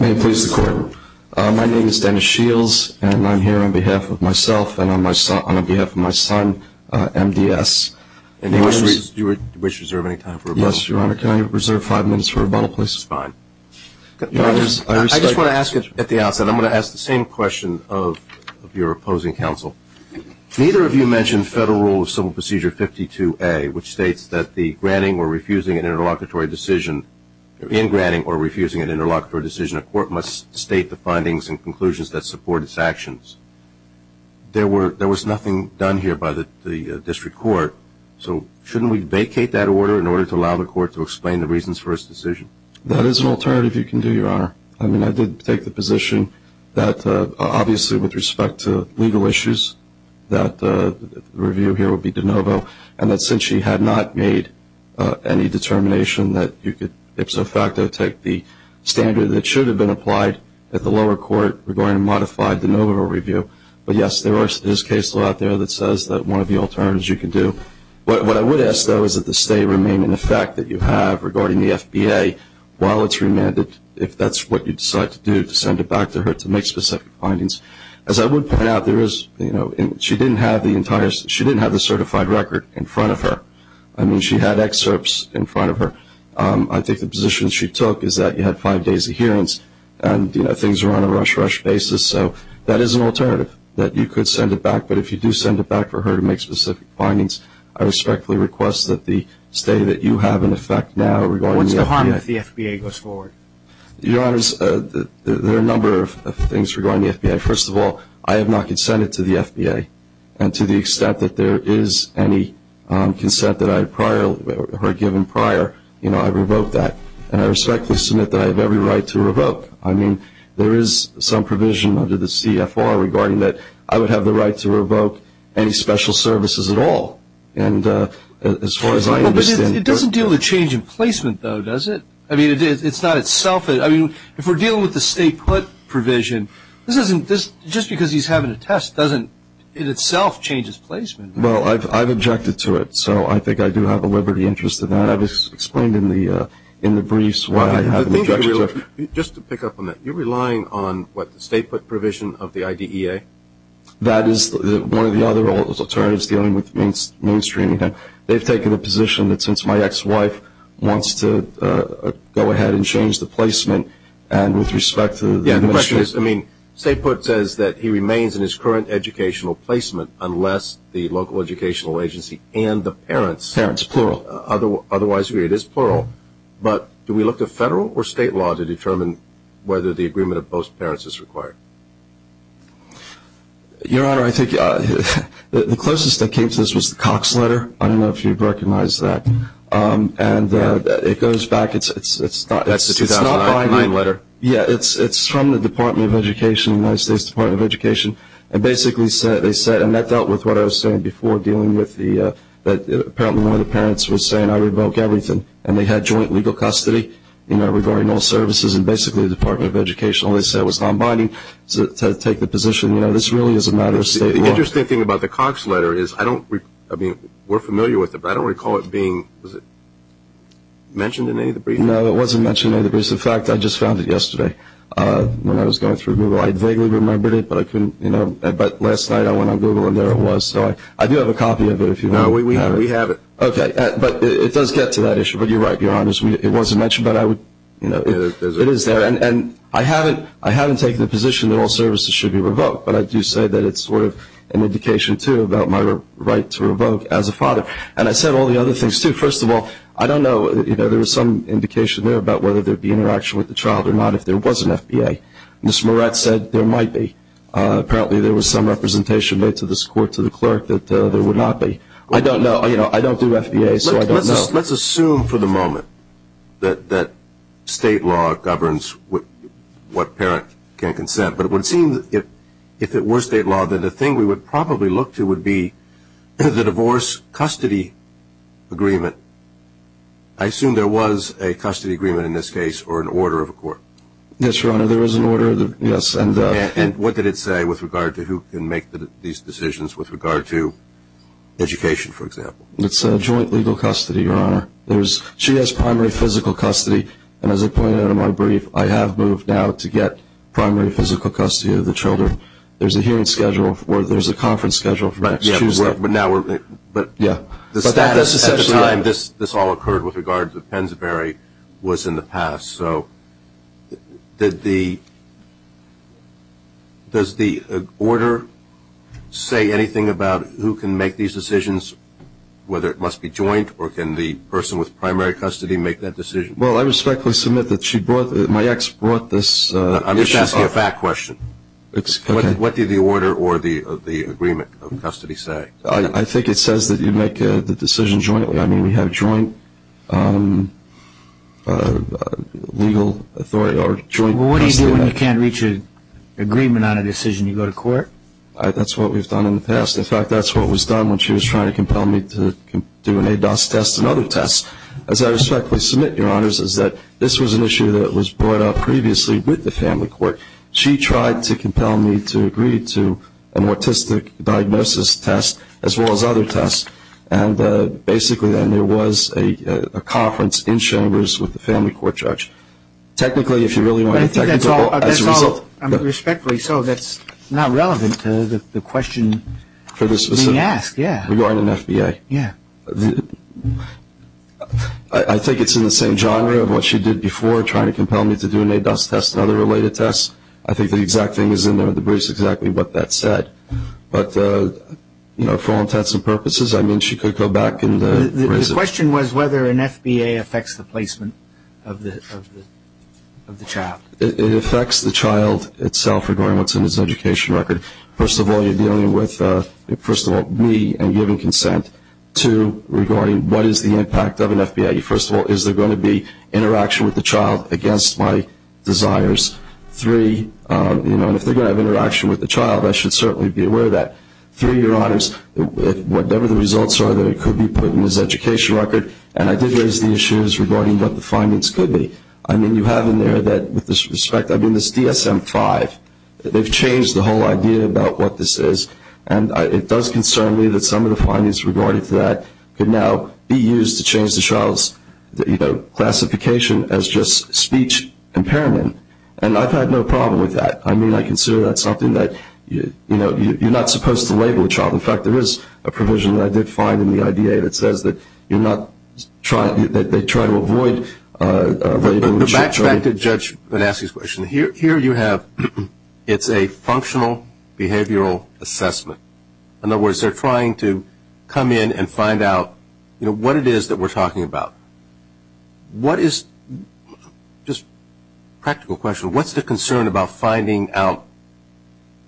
May it please the Court. My name is Dennis Shields, and I'm here on behalf of myself and on behalf of my son, MDS. Do you wish to reserve any time for rebuttal? Yes, Your Honor. Can I reserve five minutes for rebuttal, please? That's fine. I just want to ask at the outset, I'm going to ask the same question of your opposing counsel. Neither of you mentioned federal rule of civil procedure 52A, which states that the granting or refusing an interlocutory decision, in granting or refusing an interlocutory decision, a court must state the findings and conclusions that support its actions. There was nothing done here by the district court, so shouldn't we vacate that order in order to allow the court to explain the reasons for its decision? That is an alternative you can do, Your Honor. I mean, I did take the position that, obviously, with respect to legal issues, that the review here would be de novo, and that since she had not made any determination that you could ipso facto take the standard that should have been applied at the lower court regarding a modified de novo review. But, yes, there is case law out there that says that one of the alternatives you can do. What I would ask, though, is that the stay remain in effect that you have regarding the FBA while it's remanded, if that's what you decide to do, to send it back to her to make specific findings. As I would point out, she didn't have the certified record in front of her. I mean, she had excerpts in front of her. I think the position she took is that you had five days adherence and things were on a rush-rush basis, so that is an alternative that you could send it back. But if you do send it back for her to make specific findings, I respectfully request that the stay that you have in effect now regarding the FBA. What's the harm if the FBA goes forward? Your Honors, there are a number of things regarding the FBA. First of all, I have not consented to the FBA, and to the extent that there is any consent that I had prior or were given prior, you know, I revoke that. And I respectfully submit that I have every right to revoke. I mean, there is some provision under the CFR regarding that I would have the right to revoke any special services at all. And as far as I understand it doesn't deal with change in placement, though, does it? I mean, it's not itself. I mean, if we're dealing with the state put provision, just because he's having a test doesn't in itself change his placement. Well, I've objected to it, so I think I do have a liberty interest in that. I've explained in the briefs why I have an objection to it. Just to pick up on that, you're relying on, what, the state put provision of the IDEA? That is one of the other alternatives dealing with mainstreaming. They've taken a position that since my ex-wife wants to go ahead and change the placement, and with respect to the mission. Yeah, the question is, I mean, state put says that he remains in his current educational placement unless the local educational agency and the parents otherwise agree. Parents, plural. It is plural. But do we look to federal or state law to determine whether the agreement of both parents is required? Your Honor, I think the closest that came to this was the Cox letter. I don't know if you've recognized that. And it goes back. That's the 2009 letter. Yeah, it's from the Department of Education, the United States Department of Education. And basically they said, and that dealt with what I was saying before dealing with the, apparently one of the parents was saying, I revoke everything. And they had joint legal custody, you know, regarding all services. And basically the Department of Education only said it was non-binding to take the position. You know, this really is a matter of state law. The interesting thing about the Cox letter is, I mean, we're familiar with it, but I don't recall it being mentioned in any of the briefs. No, it wasn't mentioned in any of the briefs. In fact, I just found it yesterday when I was going through Google. I vaguely remembered it, but I couldn't, you know. But last night I went on Google and there it was. So I do have a copy of it if you want to have it. No, we have it. Okay. But it does get to that issue. But you're right, Your Honor, it wasn't mentioned. But I would, you know, it is there. And I haven't taken the position that all services should be revoked. But I do say that it's sort of an indication, too, about my right to revoke as a father. And I said all the other things, too. First of all, I don't know, you know, there was some indication there about whether there would be interaction with the child or not if there was an FBA. Ms. Moretz said there might be. Apparently there was some representation made to this court to the clerk that there would not be. I don't know. You know, I don't do FBA, so I don't know. Well, let's assume for the moment that state law governs what parent can consent. But it would seem if it were state law, then the thing we would probably look to would be the divorce-custody agreement. I assume there was a custody agreement in this case or an order of a court. Yes, Your Honor, there was an order, yes. And what did it say with regard to who can make these decisions with regard to education, for example? It's a joint legal custody, Your Honor. She has primary physical custody, and as I pointed out in my brief, I have moved now to get primary physical custody of the children. There's a hearing schedule or there's a conference schedule for next Tuesday. But now we're going to – Yeah. The status at the time this all occurred with regard to Pensabury was in the past. So does the order say anything about who can make these decisions, whether it must be joint, or can the person with primary custody make that decision? Well, I respectfully submit that she brought – my ex brought this. I'm just asking a fact question. What did the order or the agreement of custody say? I think it says that you make the decision jointly. I mean, we have joint legal authority or joint custody. Well, what do you do when you can't reach an agreement on a decision? You go to court? That's what we've done in the past. In fact, that's what was done when she was trying to compel me to do an ADOS test and other tests. As I respectfully submit, Your Honors, is that this was an issue that was brought up previously with the family court. She tried to compel me to agree to an autistic diagnosis test as well as other tests. And basically then there was a conference in Chambers with the family court judge. Technically, if you really want to – I think that's all – I mean, respectfully, so that's not relevant to the question being asked, yeah. Regarding an FBA. Yeah. I think it's in the same genre of what she did before, trying to compel me to do an ADOS test and other related tests. I think the exact thing is in there with the briefs, exactly what that said. But, you know, for all intents and purposes, I mean, she could go back and raise it. The question was whether an FBA affects the placement of the child. It affects the child itself regarding what's in his education record. First of all, you're dealing with, first of all, me and giving consent. Two, regarding what is the impact of an FBA. First of all, is there going to be interaction with the child against my desires? Three, you know, and if they're going to have interaction with the child, I should certainly be aware of that. Three, Your Honors, whatever the results are that it could be put in his education record, and I did raise the issues regarding what the findings could be. I mean, you have in there that, with this respect, I mean, this DSM-5. They've changed the whole idea about what this is, and it does concern me that some of the findings regarding that could now be used to change the child's, you know, classification as just speech impairment. And I've had no problem with that. I mean, I consider that something that, you know, you're not supposed to label a child. In fact, there is a provision that I did find in the IDA that says that you're not trying to, that they try to avoid labeling a child. But back to Judge Vannessi's question. Here you have, it's a functional behavioral assessment. In other words, they're trying to come in and find out, you know, what it is that we're talking about. What is, just a practical question, what's the concern about finding out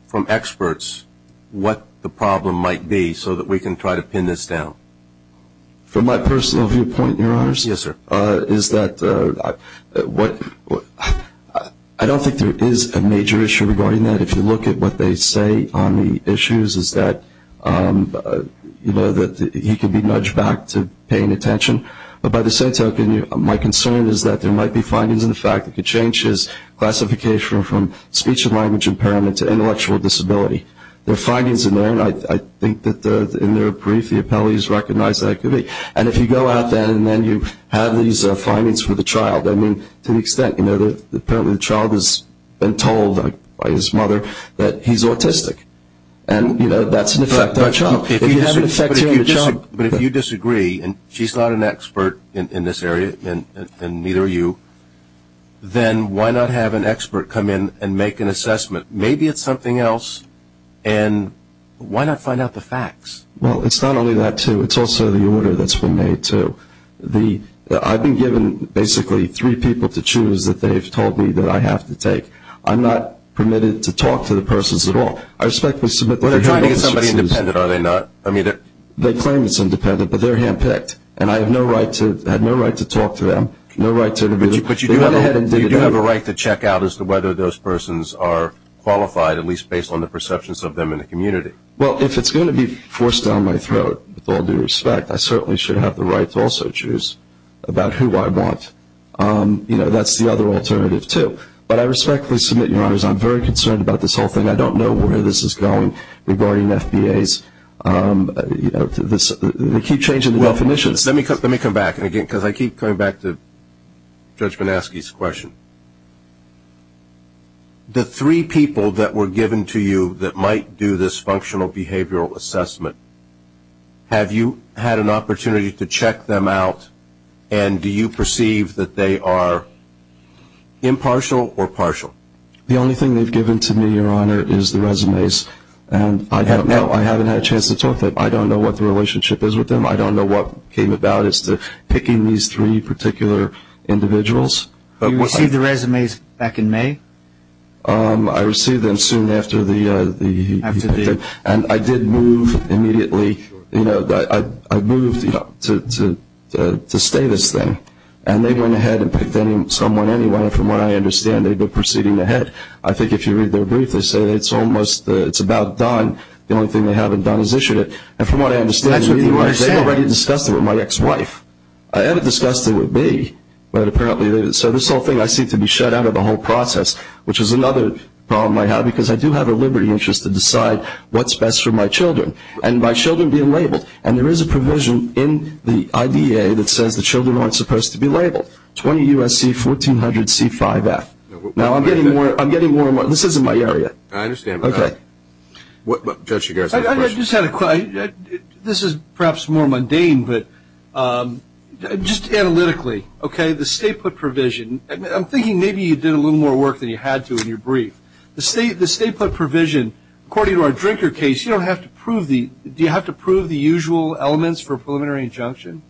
from experts what the problem might be so that we can try to pin this down? From my personal viewpoint, Your Honors, is that I don't think there is a major issue regarding that. I mean, if you look at what they say on the issues, is that, you know, that he could be nudged back to paying attention. But by the same token, my concern is that there might be findings in the fact that could change his classification from speech and language impairment to intellectual disability. There are findings in there, and I think that in their brief the appellees recognized that it could be. And if you go out there and then you have these findings for the child, I mean, to the extent, you know, apparently the child has been told by his mother that he's autistic. And, you know, that's an effect on the child. But if you disagree, and she's not an expert in this area, and neither are you, then why not have an expert come in and make an assessment? Maybe it's something else, and why not find out the facts? Well, it's not only that, too. It's also the order that's been made, too. I've been given basically three people to choose that they've told me that I have to take. I'm not permitted to talk to the persons at all. I respectfully submit that they don't have to choose. They're trying to get somebody independent, are they not? I mean, they claim it's independent, but they're handpicked. And I have no right to talk to them, no right to interview them. But you do have a right to check out as to whether those persons are qualified, at least based on the perceptions of them in the community. Well, if it's going to be forced down my throat, with all due respect, I certainly should have the right to also choose about who I want. You know, that's the other alternative, too. But I respectfully submit, Your Honors, I'm very concerned about this whole thing. I don't know where this is going regarding FBAs. You know, they keep changing the definitions. Let me come back, because I keep coming back to Judge Manaske's question. The three people that were given to you that might do this functional behavioral assessment, have you had an opportunity to check them out, and do you perceive that they are impartial or partial? The only thing they've given to me, Your Honor, is the resumes. And I don't know, I haven't had a chance to talk to them. I don't know what the relationship is with them. I don't know what came about as to picking these three particular individuals. You received the resumes back in May? I received them soon after you picked them. And I did move immediately, you know, I moved to stay this thing. And they went ahead and picked someone anyway. From what I understand, they've been proceeding ahead. I think if you read their brief, they say it's almost about done. The only thing they haven't done is issued it. And from what I understand, they already discussed it with my ex-wife. I haven't discussed it with me, but apparently they did. So this whole thing I seem to be shut out of the whole process, which is another problem I have because I do have a liberty and interest to decide what's best for my children. And my children being labeled. And there is a provision in the IDA that says the children aren't supposed to be labeled, 20 U.S.C. 1400 C5F. Now, I'm getting more and more. This isn't my area. I understand. Okay. Judge, you guys have a question? I just had a question. This is perhaps more mundane, but just analytically, okay, the state put provision. I'm thinking maybe you did a little more work than you had to in your brief. The state put provision, according to our drinker case, you don't have to prove the do you have to prove the usual elements for preliminary injunction?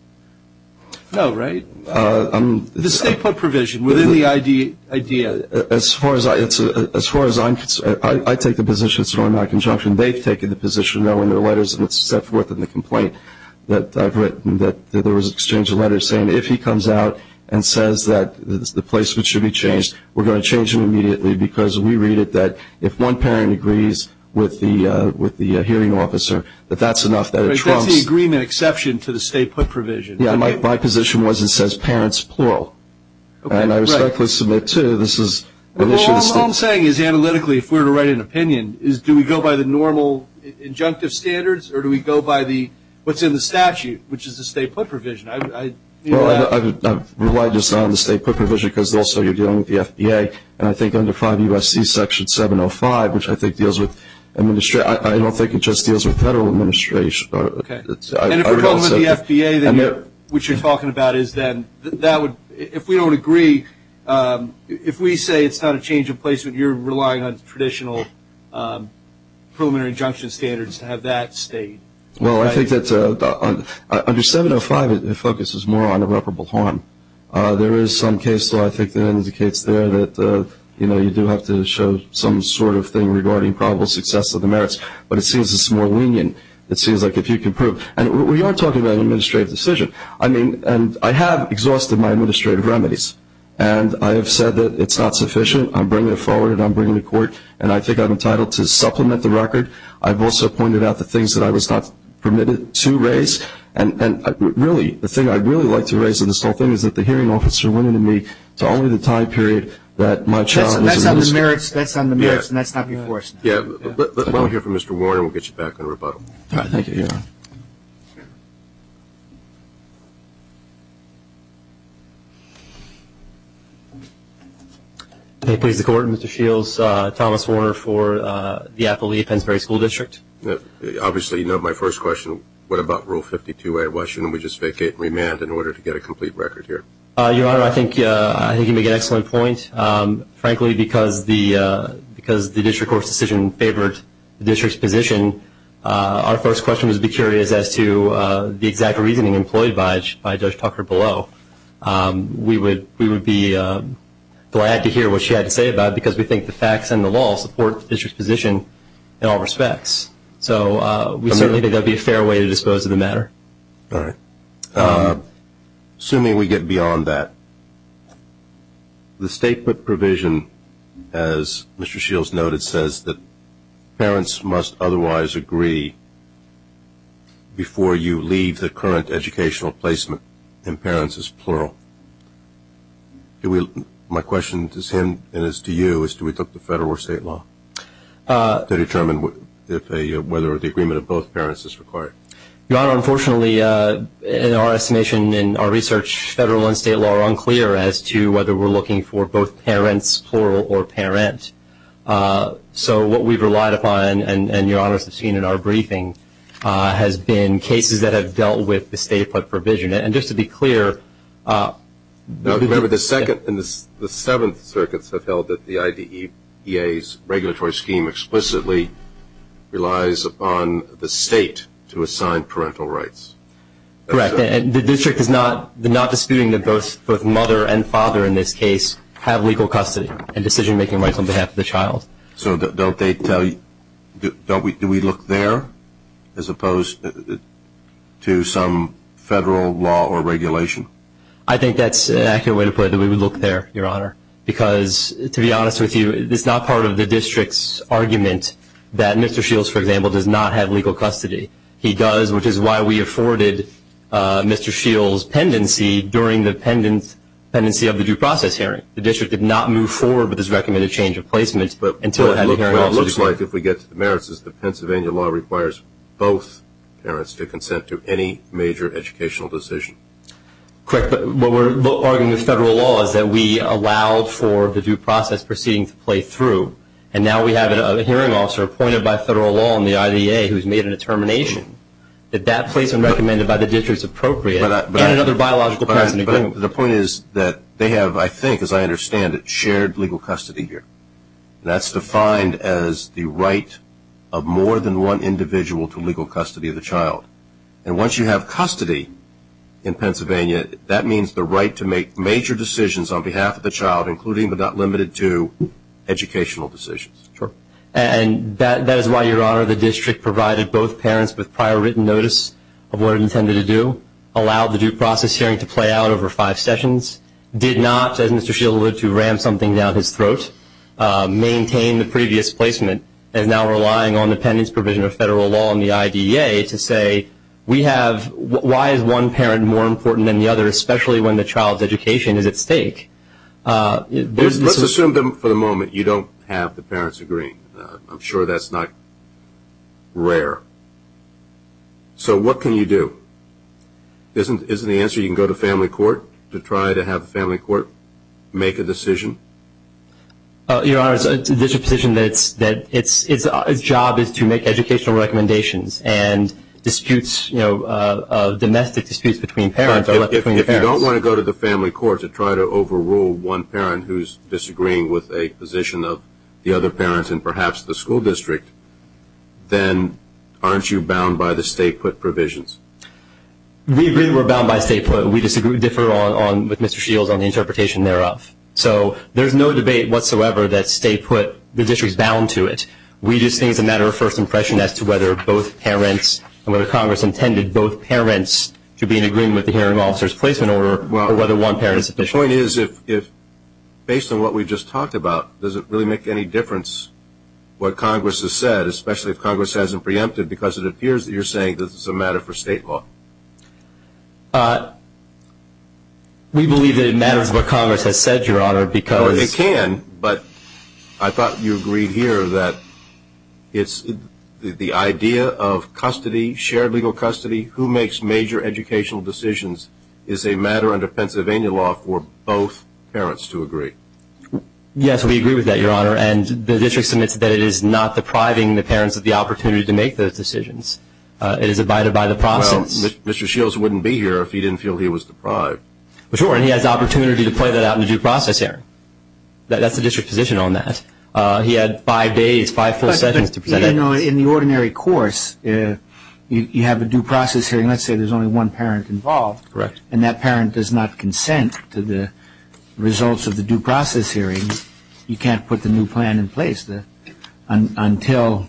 No, right? The state put provision within the IDA. As far as I'm concerned, I take the position it's an automatic injunction. They've taken the position knowing their letters and it's set forth in the complaint that I've written that there was an exchange of letters saying if he comes out and says that the placement should be changed, we're going to change it immediately because we read it that if one parent agrees with the hearing officer, that that's enough. That's the agreement exception to the state put provision. Yeah, my position was it says parents, plural. All I'm saying is analytically, if we're to write an opinion, is do we go by the normal injunctive standards or do we go by what's in the statute, which is the state put provision? Well, I've relied just on the state put provision because also you're dealing with the FBA, and I think under 5 U.S.C. Section 705, which I think deals with administration. I don't think it just deals with federal administration. And if we're talking about the FBA, which you're talking about, if we don't agree, if we say it's not a change of placement, you're relying on traditional preliminary injunction standards to have that state. Well, I think that under 705 it focuses more on irreparable harm. There is some case law I think that indicates there that, you know, you do have to show some sort of thing regarding probable success of the merits. But it seems it's more lenient. It seems like if you can prove. And we are talking about an administrative decision. I mean, and I have exhausted my administrative remedies, and I have said that it's not sufficient. I'm bringing it forward, and I'm bringing it to court, and I think I'm entitled to supplement the record. I've also pointed out the things that I was not permitted to raise. And really, the thing I'd really like to raise in this whole thing is that the hearing officer went into me to only the time period that my child was in. That's on the merits, and that's not before us. Let me hear from Mr. Warner, and we'll get you back on rebuttal. All right. Thank you, Your Honor. May it please the Court, Mr. Shields. Thomas Warner for the Appalachia-Pennsbury School District. Obviously, you know my first question, what about Rule 52? Why shouldn't we just vacate and remand in order to get a complete record here? Your Honor, I think you make an excellent point. Frankly, because the district court's decision favored the district's position, our first question would be curious as to the exact reasoning employed by Judge Tucker below. We would be glad to hear what she had to say about it, because we think the facts and the law support the district's position in all respects. So we certainly think that would be a fair way to dispose of the matter. All right. Assuming we get beyond that, the state provision, as Mr. Shields noted, says that parents must otherwise agree before you leave the current educational placement, and parents is plural. My question is to him and is to you, is do we look to federal or state law to determine whether the agreement of both parents is required? Your Honor, unfortunately, in our estimation and our research, federal and state law are unclear as to whether we're looking for both parents, plural or parent. So what we've relied upon and, Your Honor, as we've seen in our briefing has been cases that have dealt with the state provision. And just to be clear, remember the Second and the Seventh Circuits have held that the IDEA's regulatory scheme explicitly relies upon the state to assign parental rights. Correct. And the district is not disputing that both mother and father in this case have legal custody and decision-making rights on behalf of the child. So don't they tell you, do we look there as opposed to some federal law or regulation? I think that's an accurate way to put it, that we would look there, Your Honor, because, to be honest with you, it's not part of the district's argument that Mr. Shields, for example, does not have legal custody. He does, which is why we afforded Mr. Shields' pendency during the pendency of the due process hearing. The district did not move forward with this recommended change of placement until it had the hearing. Well, it looks like, if we get to the merits, the Pennsylvania law requires both parents to consent to any major educational decision. Correct. What we're arguing with federal law is that we allowed for the due process proceeding to play through, and now we have a hearing officer appointed by federal law in the IDEA who's made a determination that that placement recommended by the district is appropriate and another biological parent in agreement. But the point is that they have, I think, as I understand it, shared legal custody here. That's defined as the right of more than one individual to legal custody of the child. And once you have custody in Pennsylvania, that means the right to make major decisions on behalf of the child, including but not limited to educational decisions. Sure. And that is why, Your Honor, the district provided both parents with prior written notice of what it intended to do, allowed the due process hearing to play out over five sessions, did not, as Mr. Shields would, to ram something down his throat, maintained the previous placement, and is now relying on the pending provision of federal law in the IDEA to say, why is one parent more important than the other, especially when the child's education is at stake? Let's assume for the moment you don't have the parents agreeing. I'm sure that's not rare. So what can you do? Isn't the answer you can go to family court to try to have the family court make a decision? Your Honor, there's a position that its job is to make educational recommendations and disputes, you know, domestic disputes between parents are left between the parents. If you don't want to go to the family court to try to overrule one parent who's disagreeing with a position of the other parents and perhaps the school district, then aren't you bound by the state put provisions? We agree we're bound by state put. We differ with Mr. Shields on the interpretation thereof. So there's no debate whatsoever that the district's bound to it. We just think it's a matter of first impression as to whether both parents and whether Congress intended both parents to be in agreement with the hearing officer's placement order or whether one parent is sufficient. The point is, based on what we just talked about, does it really make any difference what Congress has said, especially if Congress hasn't preempted because it appears that you're saying this is a matter for state law? We believe that it matters what Congress has said, Your Honor, because It can, but I thought you agreed here that it's the idea of custody, shared legal custody, who makes major educational decisions is a matter under Pennsylvania law for both parents to agree. Yes, we agree with that, Your Honor, and the district submits that it is not depriving the parents of the opportunity to make those decisions. It is abided by the process. Well, Mr. Shields wouldn't be here if he didn't feel he was deprived. Sure, and he has the opportunity to play that out in the due process hearing. That's the district's position on that. He had five days, five full sessions to present it. But I know in the ordinary course, you have a due process hearing. Let's say there's only one parent involved. Correct. And that parent does not consent to the results of the due process hearing. You can't put the new plan in place until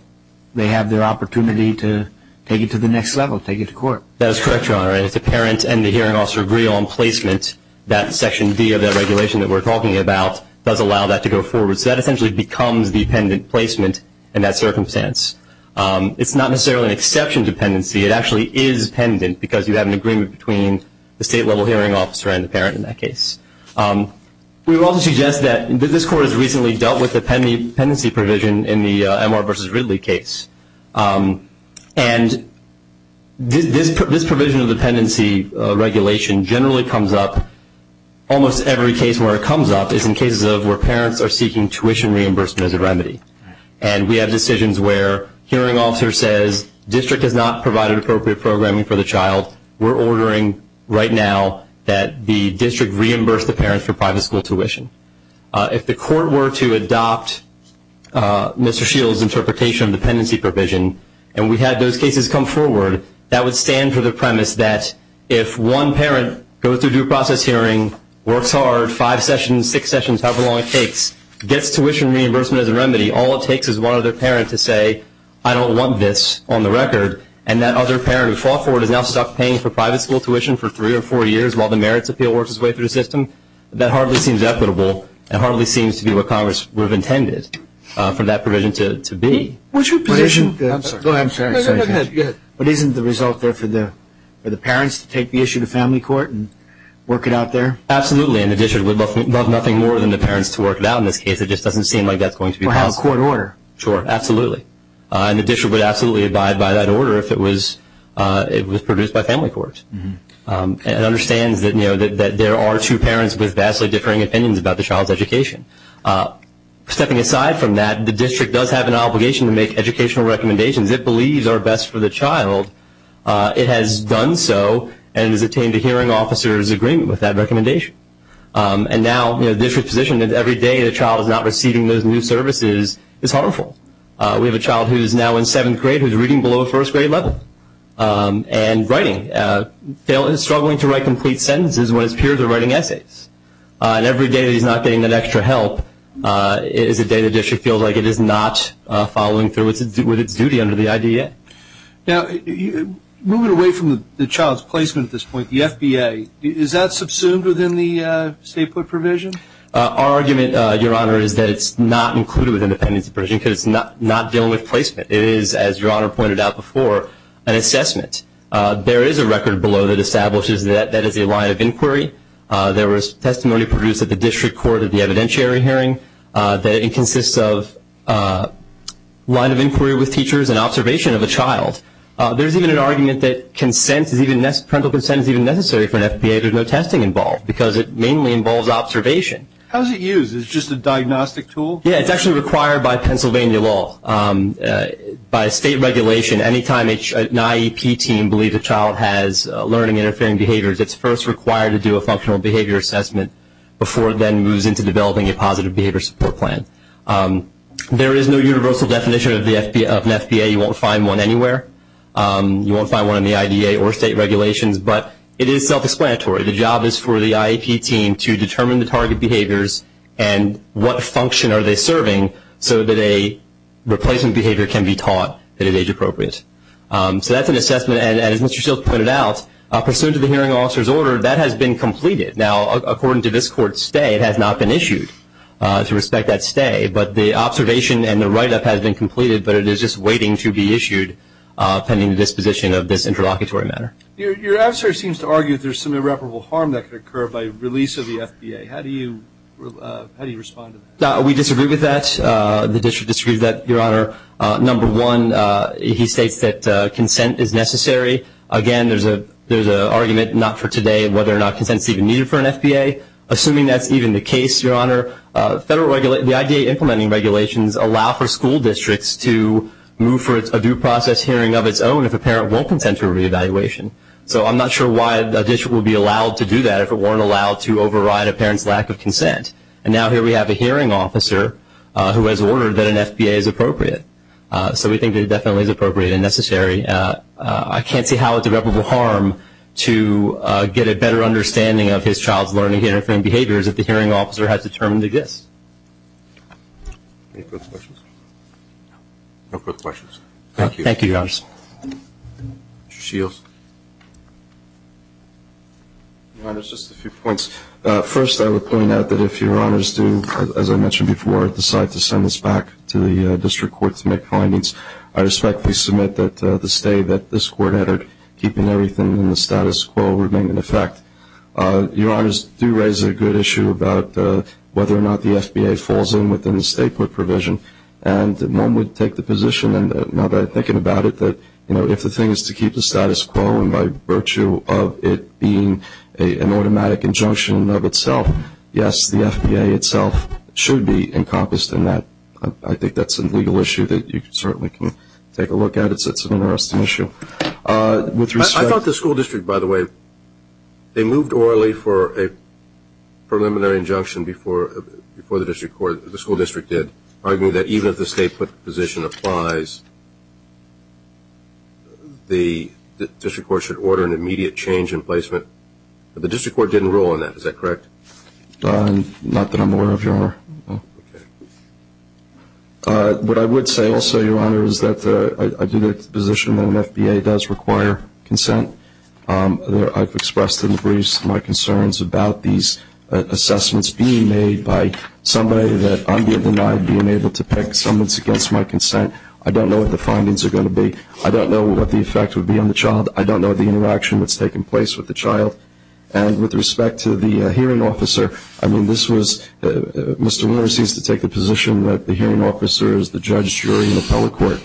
they have their opportunity to take it to the next level, take it to court. That is correct, Your Honor, and if the parent and the hearing officer agree on placement, that Section D of that regulation that we're talking about does allow that to go forward. So that essentially becomes the appendant placement in that circumstance. It's not necessarily an exception to pendency. It actually is pendent because you have an agreement between the state-level hearing officer and the parent in that case. We would also suggest that this court has recently dealt with the pendency provision in the M.R. v. Ridley case, and this provision of the pendency regulation generally comes up, almost every case where it comes up is in cases of where parents are seeking tuition reimbursement as a remedy. And we have decisions where a hearing officer says, District has not provided appropriate programming for the child. We're ordering right now that the district reimburse the parent for private school tuition. If the court were to adopt Mr. Shields' interpretation of the pendency provision and we had those cases come forward, that would stand for the premise that if one parent goes through due process hearing, works hard, five sessions, six sessions, however long it takes, gets tuition reimbursement as a remedy, all it takes is one other parent to say, I don't want this on the record, and that other parent who fought for it is now stuck paying for private school tuition for three or four years while the merits appeal works its way through the system, that hardly seems equitable and hardly seems to be what Congress would have intended for that provision to be. Go ahead. But isn't the result there for the parents to take the issue to family court and work it out there? Absolutely. In addition, we'd love nothing more than the parents to work it out in this case. It just doesn't seem like that's going to be possible. Or have a court order. Sure, absolutely. And the district would absolutely abide by that order if it was produced by family court. It understands that there are two parents with vastly differing opinions about the child's education. Stepping aside from that, the district does have an obligation to make educational recommendations it believes are best for the child. It has done so and has obtained a hearing officer's agreement with that recommendation. And now the district's position is every day the child is not receiving those new services is harmful. We have a child who is now in seventh grade who is reading below a first grade level and writing, struggling to write complete sentences when his peers are writing essays. And every day that he's not getting that extra help is a day the district feels like it is not following through with its duty under the IDEA. Now moving away from the child's placement at this point, the FBA, is that subsumed within the state put provision? Our argument, Your Honor, is that it's not included within the pendency provision because it's not dealing with placement. It is, as Your Honor pointed out before, an assessment. There is a record below that establishes that that is a line of inquiry. There was testimony produced at the district court at the evidentiary hearing that it consists of a line of inquiry with teachers and observation of a child. There's even an argument that parental consent is even necessary for an FBA. There's no testing involved because it mainly involves observation. How is it used? Is it just a diagnostic tool? Yeah, it's actually required by Pennsylvania law. By state regulation, any time an IEP team believes a child has learning interfering behaviors, it's first required to do a functional behavior assessment before it then moves into developing a positive behavior support plan. There is no universal definition of an FBA. You won't find one anywhere. You won't find one in the IDA or state regulations. But it is self-explanatory. The job is for the IEP team to determine the target behaviors and what function are they serving so that a replacement behavior can be taught at an age appropriate. So that's an assessment. And as Mr. Shields pointed out, pursuant to the hearing officer's order, that has been completed. Now, according to this Court's stay, it has not been issued. To respect that stay, but the observation and the write-up has been completed, but it is just waiting to be issued pending the disposition of this interlocutory matter. Your adversary seems to argue that there's some irreparable harm that could occur by release of the FBA. How do you respond to that? We disagree with that. The district disagrees with that, Your Honor. Number one, he states that consent is necessary. Again, there's an argument not for today whether or not consent is even needed for an FBA. Assuming that's even the case, Your Honor, the IDA implementing regulations allow for school districts to move for a due process hearing of its own if a parent won't consent to a reevaluation. So I'm not sure why a district would be allowed to do that if it weren't allowed to override a parent's lack of consent. And now here we have a hearing officer who has ordered that an FBA is appropriate. So we think it definitely is appropriate and necessary. I can't say how it's irreparable harm to get a better understanding of his child's learning and different behaviors that the hearing officer has determined exists. Any further questions? No further questions. Thank you, Your Honor. Mr. Shields. Your Honor, just a few points. First, I would point out that if Your Honors do, as I mentioned before, decide to send this back to the district court to make findings, I respectfully submit that the stay that this court added, keeping everything in the status quo, remained in effect. Your Honors do raise a good issue about whether or not the FBA falls in within the state court provision, and one would take the position, now that I'm thinking about it, that if the thing is to keep the status quo and by virtue of it being an automatic injunction of itself, yes, the FBA itself should be encompassed in that. I think that's a legal issue that you certainly can take a look at. It's an interesting issue. I thought the school district, by the way, they moved orally for a preliminary injunction before the school district did, arguing that even if the state position applies, the district court should order an immediate change in placement. But the district court didn't rule on that. Is that correct? Not that I'm aware of, Your Honor. What I would say also, Your Honor, is that I do take the position that an FBA does require consent. I've expressed in the briefs my concerns about these assessments being made by somebody that I'm being denied being able to pick summons against my consent. I don't know what the findings are going to be. I don't know what the effect would be on the child. I don't know the interaction that's taking place with the child. And with respect to the hearing officer, I mean, this was Mr. Warner seems to take the position that the hearing officer is the judge, jury, and appellate court.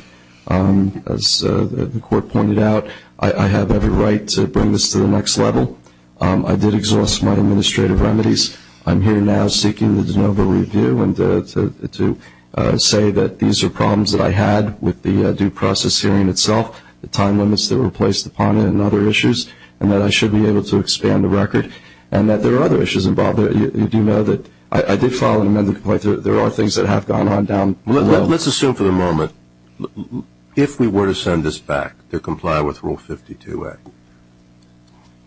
As the court pointed out, I have every right to bring this to the next level. I did exhaust my administrative remedies. I'm here now seeking the de novo review to say that these are problems that I had with the due process hearing itself, the time limits that were placed upon it and other issues, and that I should be able to expand the record, and that there are other issues involved. You do know that I did file an amended complaint. There are things that have gone on down the road. Let's assume for the moment, if we were to send this back to comply with Rule 52A,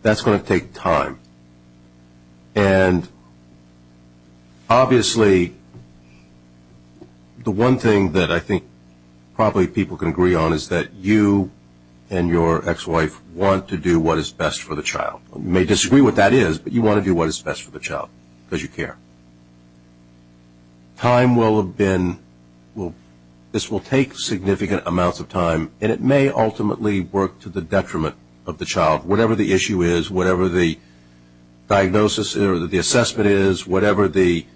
that's going to take time. And obviously, the one thing that I think probably people can agree on is that you and your ex-wife want to do what is best for the child. You may disagree what that is, but you want to do what is best for the child because you care. Time will have been – this will take significant amounts of time, and it may ultimately work to the detriment of the child. Whatever the issue is, whatever the diagnosis or the assessment is, whatever the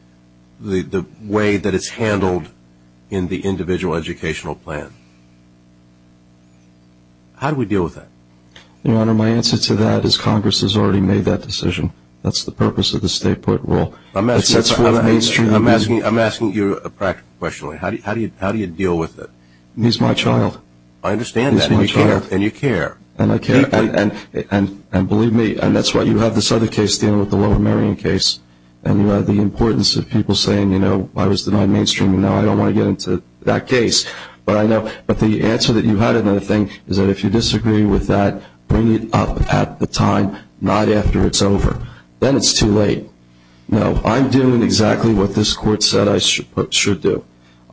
way that it's handled in the individual educational plan, how do we deal with that? Your Honor, my answer to that is Congress has already made that decision. That's the purpose of the state court rule. I'm asking you a practical question. How do you deal with it? He's my child. I understand that, and you care. And I care, and believe me, and that's why you have this other case dealing with the Lower Marion case, and you have the importance of people saying, you know, I was denied mainstream, and now I don't want to get into that case. But I know – but the answer that you had in that thing is that if you disagree with that, bring it up at the time, not after it's over. Then it's too late. No, I'm doing exactly what this Court said I should do.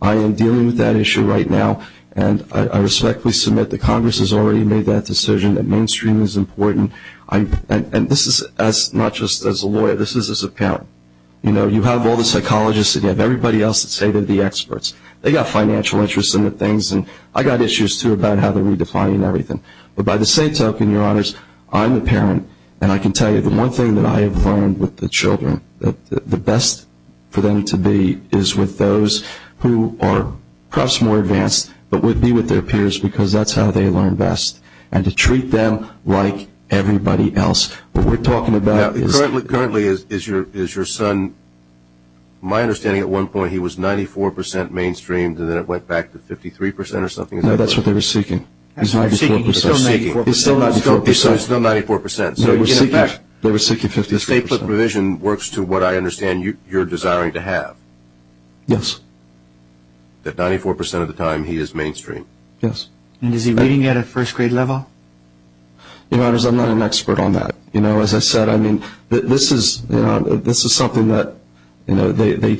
I am dealing with that issue right now, and I respectfully submit that Congress has already made that decision. That mainstream is important. And this is not just as a lawyer. This is as a parent. You know, you have all the psychologists, and you have everybody else that say they're the experts. They got financial interests in the things, and I got issues too about how they're redefining everything. But by the same token, Your Honors, I'm a parent, and I can tell you the one thing that I have learned with the children, that the best for them to be is with those who are perhaps more advanced but would be with their peers because that's how they learn best, and to treat them like everybody else. What we're talking about is – Currently, is your son – my understanding at one point, he was 94% mainstreamed, and then it went back to 53% or something. No, that's what they were seeking. He's 94%. He's still 94%. He's still 94%. So, in fact – They were seeking 54%. The state foot provision works to what I understand you're desiring to have. Yes. That 94% of the time he is mainstream. Yes. And is he reading at a first grade level? Your Honors, I'm not an expert on that. As I said, I mean, this is something that they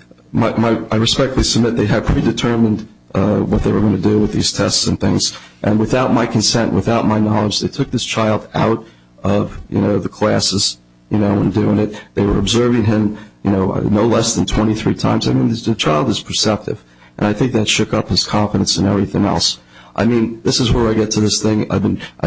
– I respectfully submit they had predetermined what they were going to do with these tests and things, and without my consent, without my knowledge, they took this child out of the classes and doing it. They were observing him no less than 23 times. I mean, the child is perceptive, and I think that shook up his confidence in everything else. I mean, this is where I get to this thing. I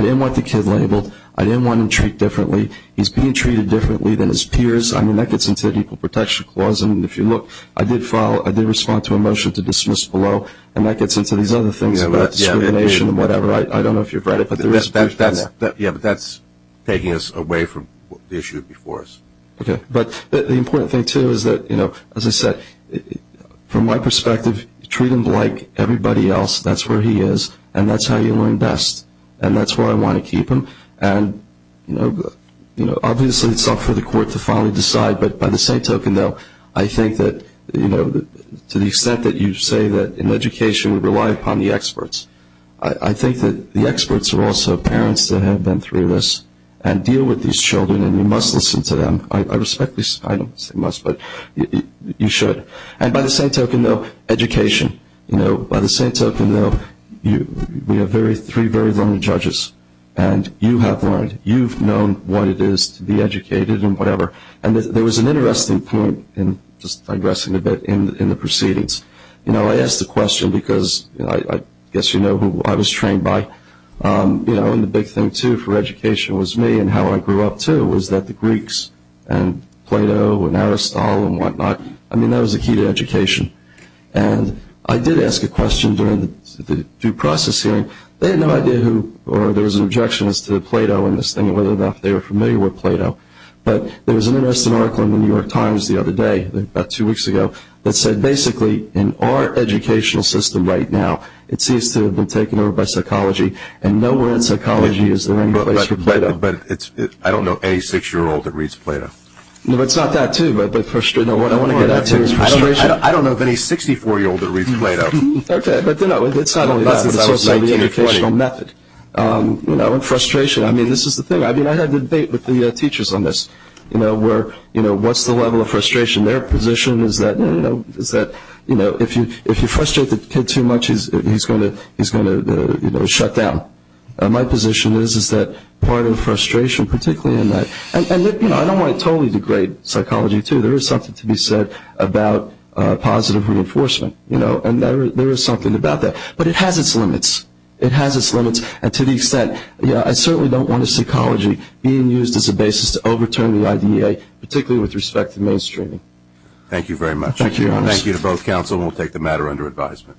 didn't want the kid labeled. I didn't want him treated differently. He's being treated differently than his peers. I mean, that gets into the Equal Protection Clause. And if you look, I did follow – I did respond to a motion to dismiss below, and that gets into these other things about discrimination and whatever. I don't know if you've read it, but there is – Yeah, but that's taking us away from the issue before us. Okay. But the important thing, too, is that, you know, as I said, from my perspective, treat him like everybody else. That's where he is, and that's how you learn best, and that's where I want to keep him. And, you know, obviously it's up for the court to finally decide, but by the same token, though, I think that, you know, to the extent that you say that in education we rely upon the experts, I think that the experts are also parents that have been through this and deal with these children, and you must listen to them. I respect this. I don't say must, but you should. And by the same token, though, education, you know, by the same token, though, we have three very learned judges, and you have learned. You've known what it is to be educated and whatever. And there was an interesting point, just digressing a bit, in the proceedings. You know, I asked the question because I guess you know who I was trained by. You know, and the big thing, too, for education was me and how I grew up, too, was that the Greeks and Plato and Aristotle and whatnot, I mean, that was the key to education. And I did ask a question during the due process hearing. They had no idea who or there was an objection as to Plato and this thing, whether or not they were familiar with Plato. But there was an interesting article in the New York Times the other day, about two weeks ago, that said basically in our educational system right now, it seems to have been taken over by psychology, and nowhere in psychology is there any place for Plato. But I don't know any six-year-old that reads Plato. No, but it's not that, too. No, what I want to get at, too, is frustration. I don't know of any 64-year-old that reads Plato. Okay, but it's not only that. It's also the educational method. You know, and frustration. I mean, this is the thing. I mean, I had a debate with the teachers on this, you know, where, you know, what's the level of frustration? Their position is that, you know, if you frustrate the kid too much, he's going to shut down. My position is that part of the frustration, particularly in that, and, you know, I don't want to totally degrade psychology, too. There is something to be said about positive reinforcement, you know, and there is something about that. But it has its limits. It has its limits, and to the extent, you know, I certainly don't want a psychology being used as a basis to overturn the IDEA, particularly with respect to mainstreaming. Thank you very much. Thank you. Thank you to both counsel, and we'll take the matter under advisement.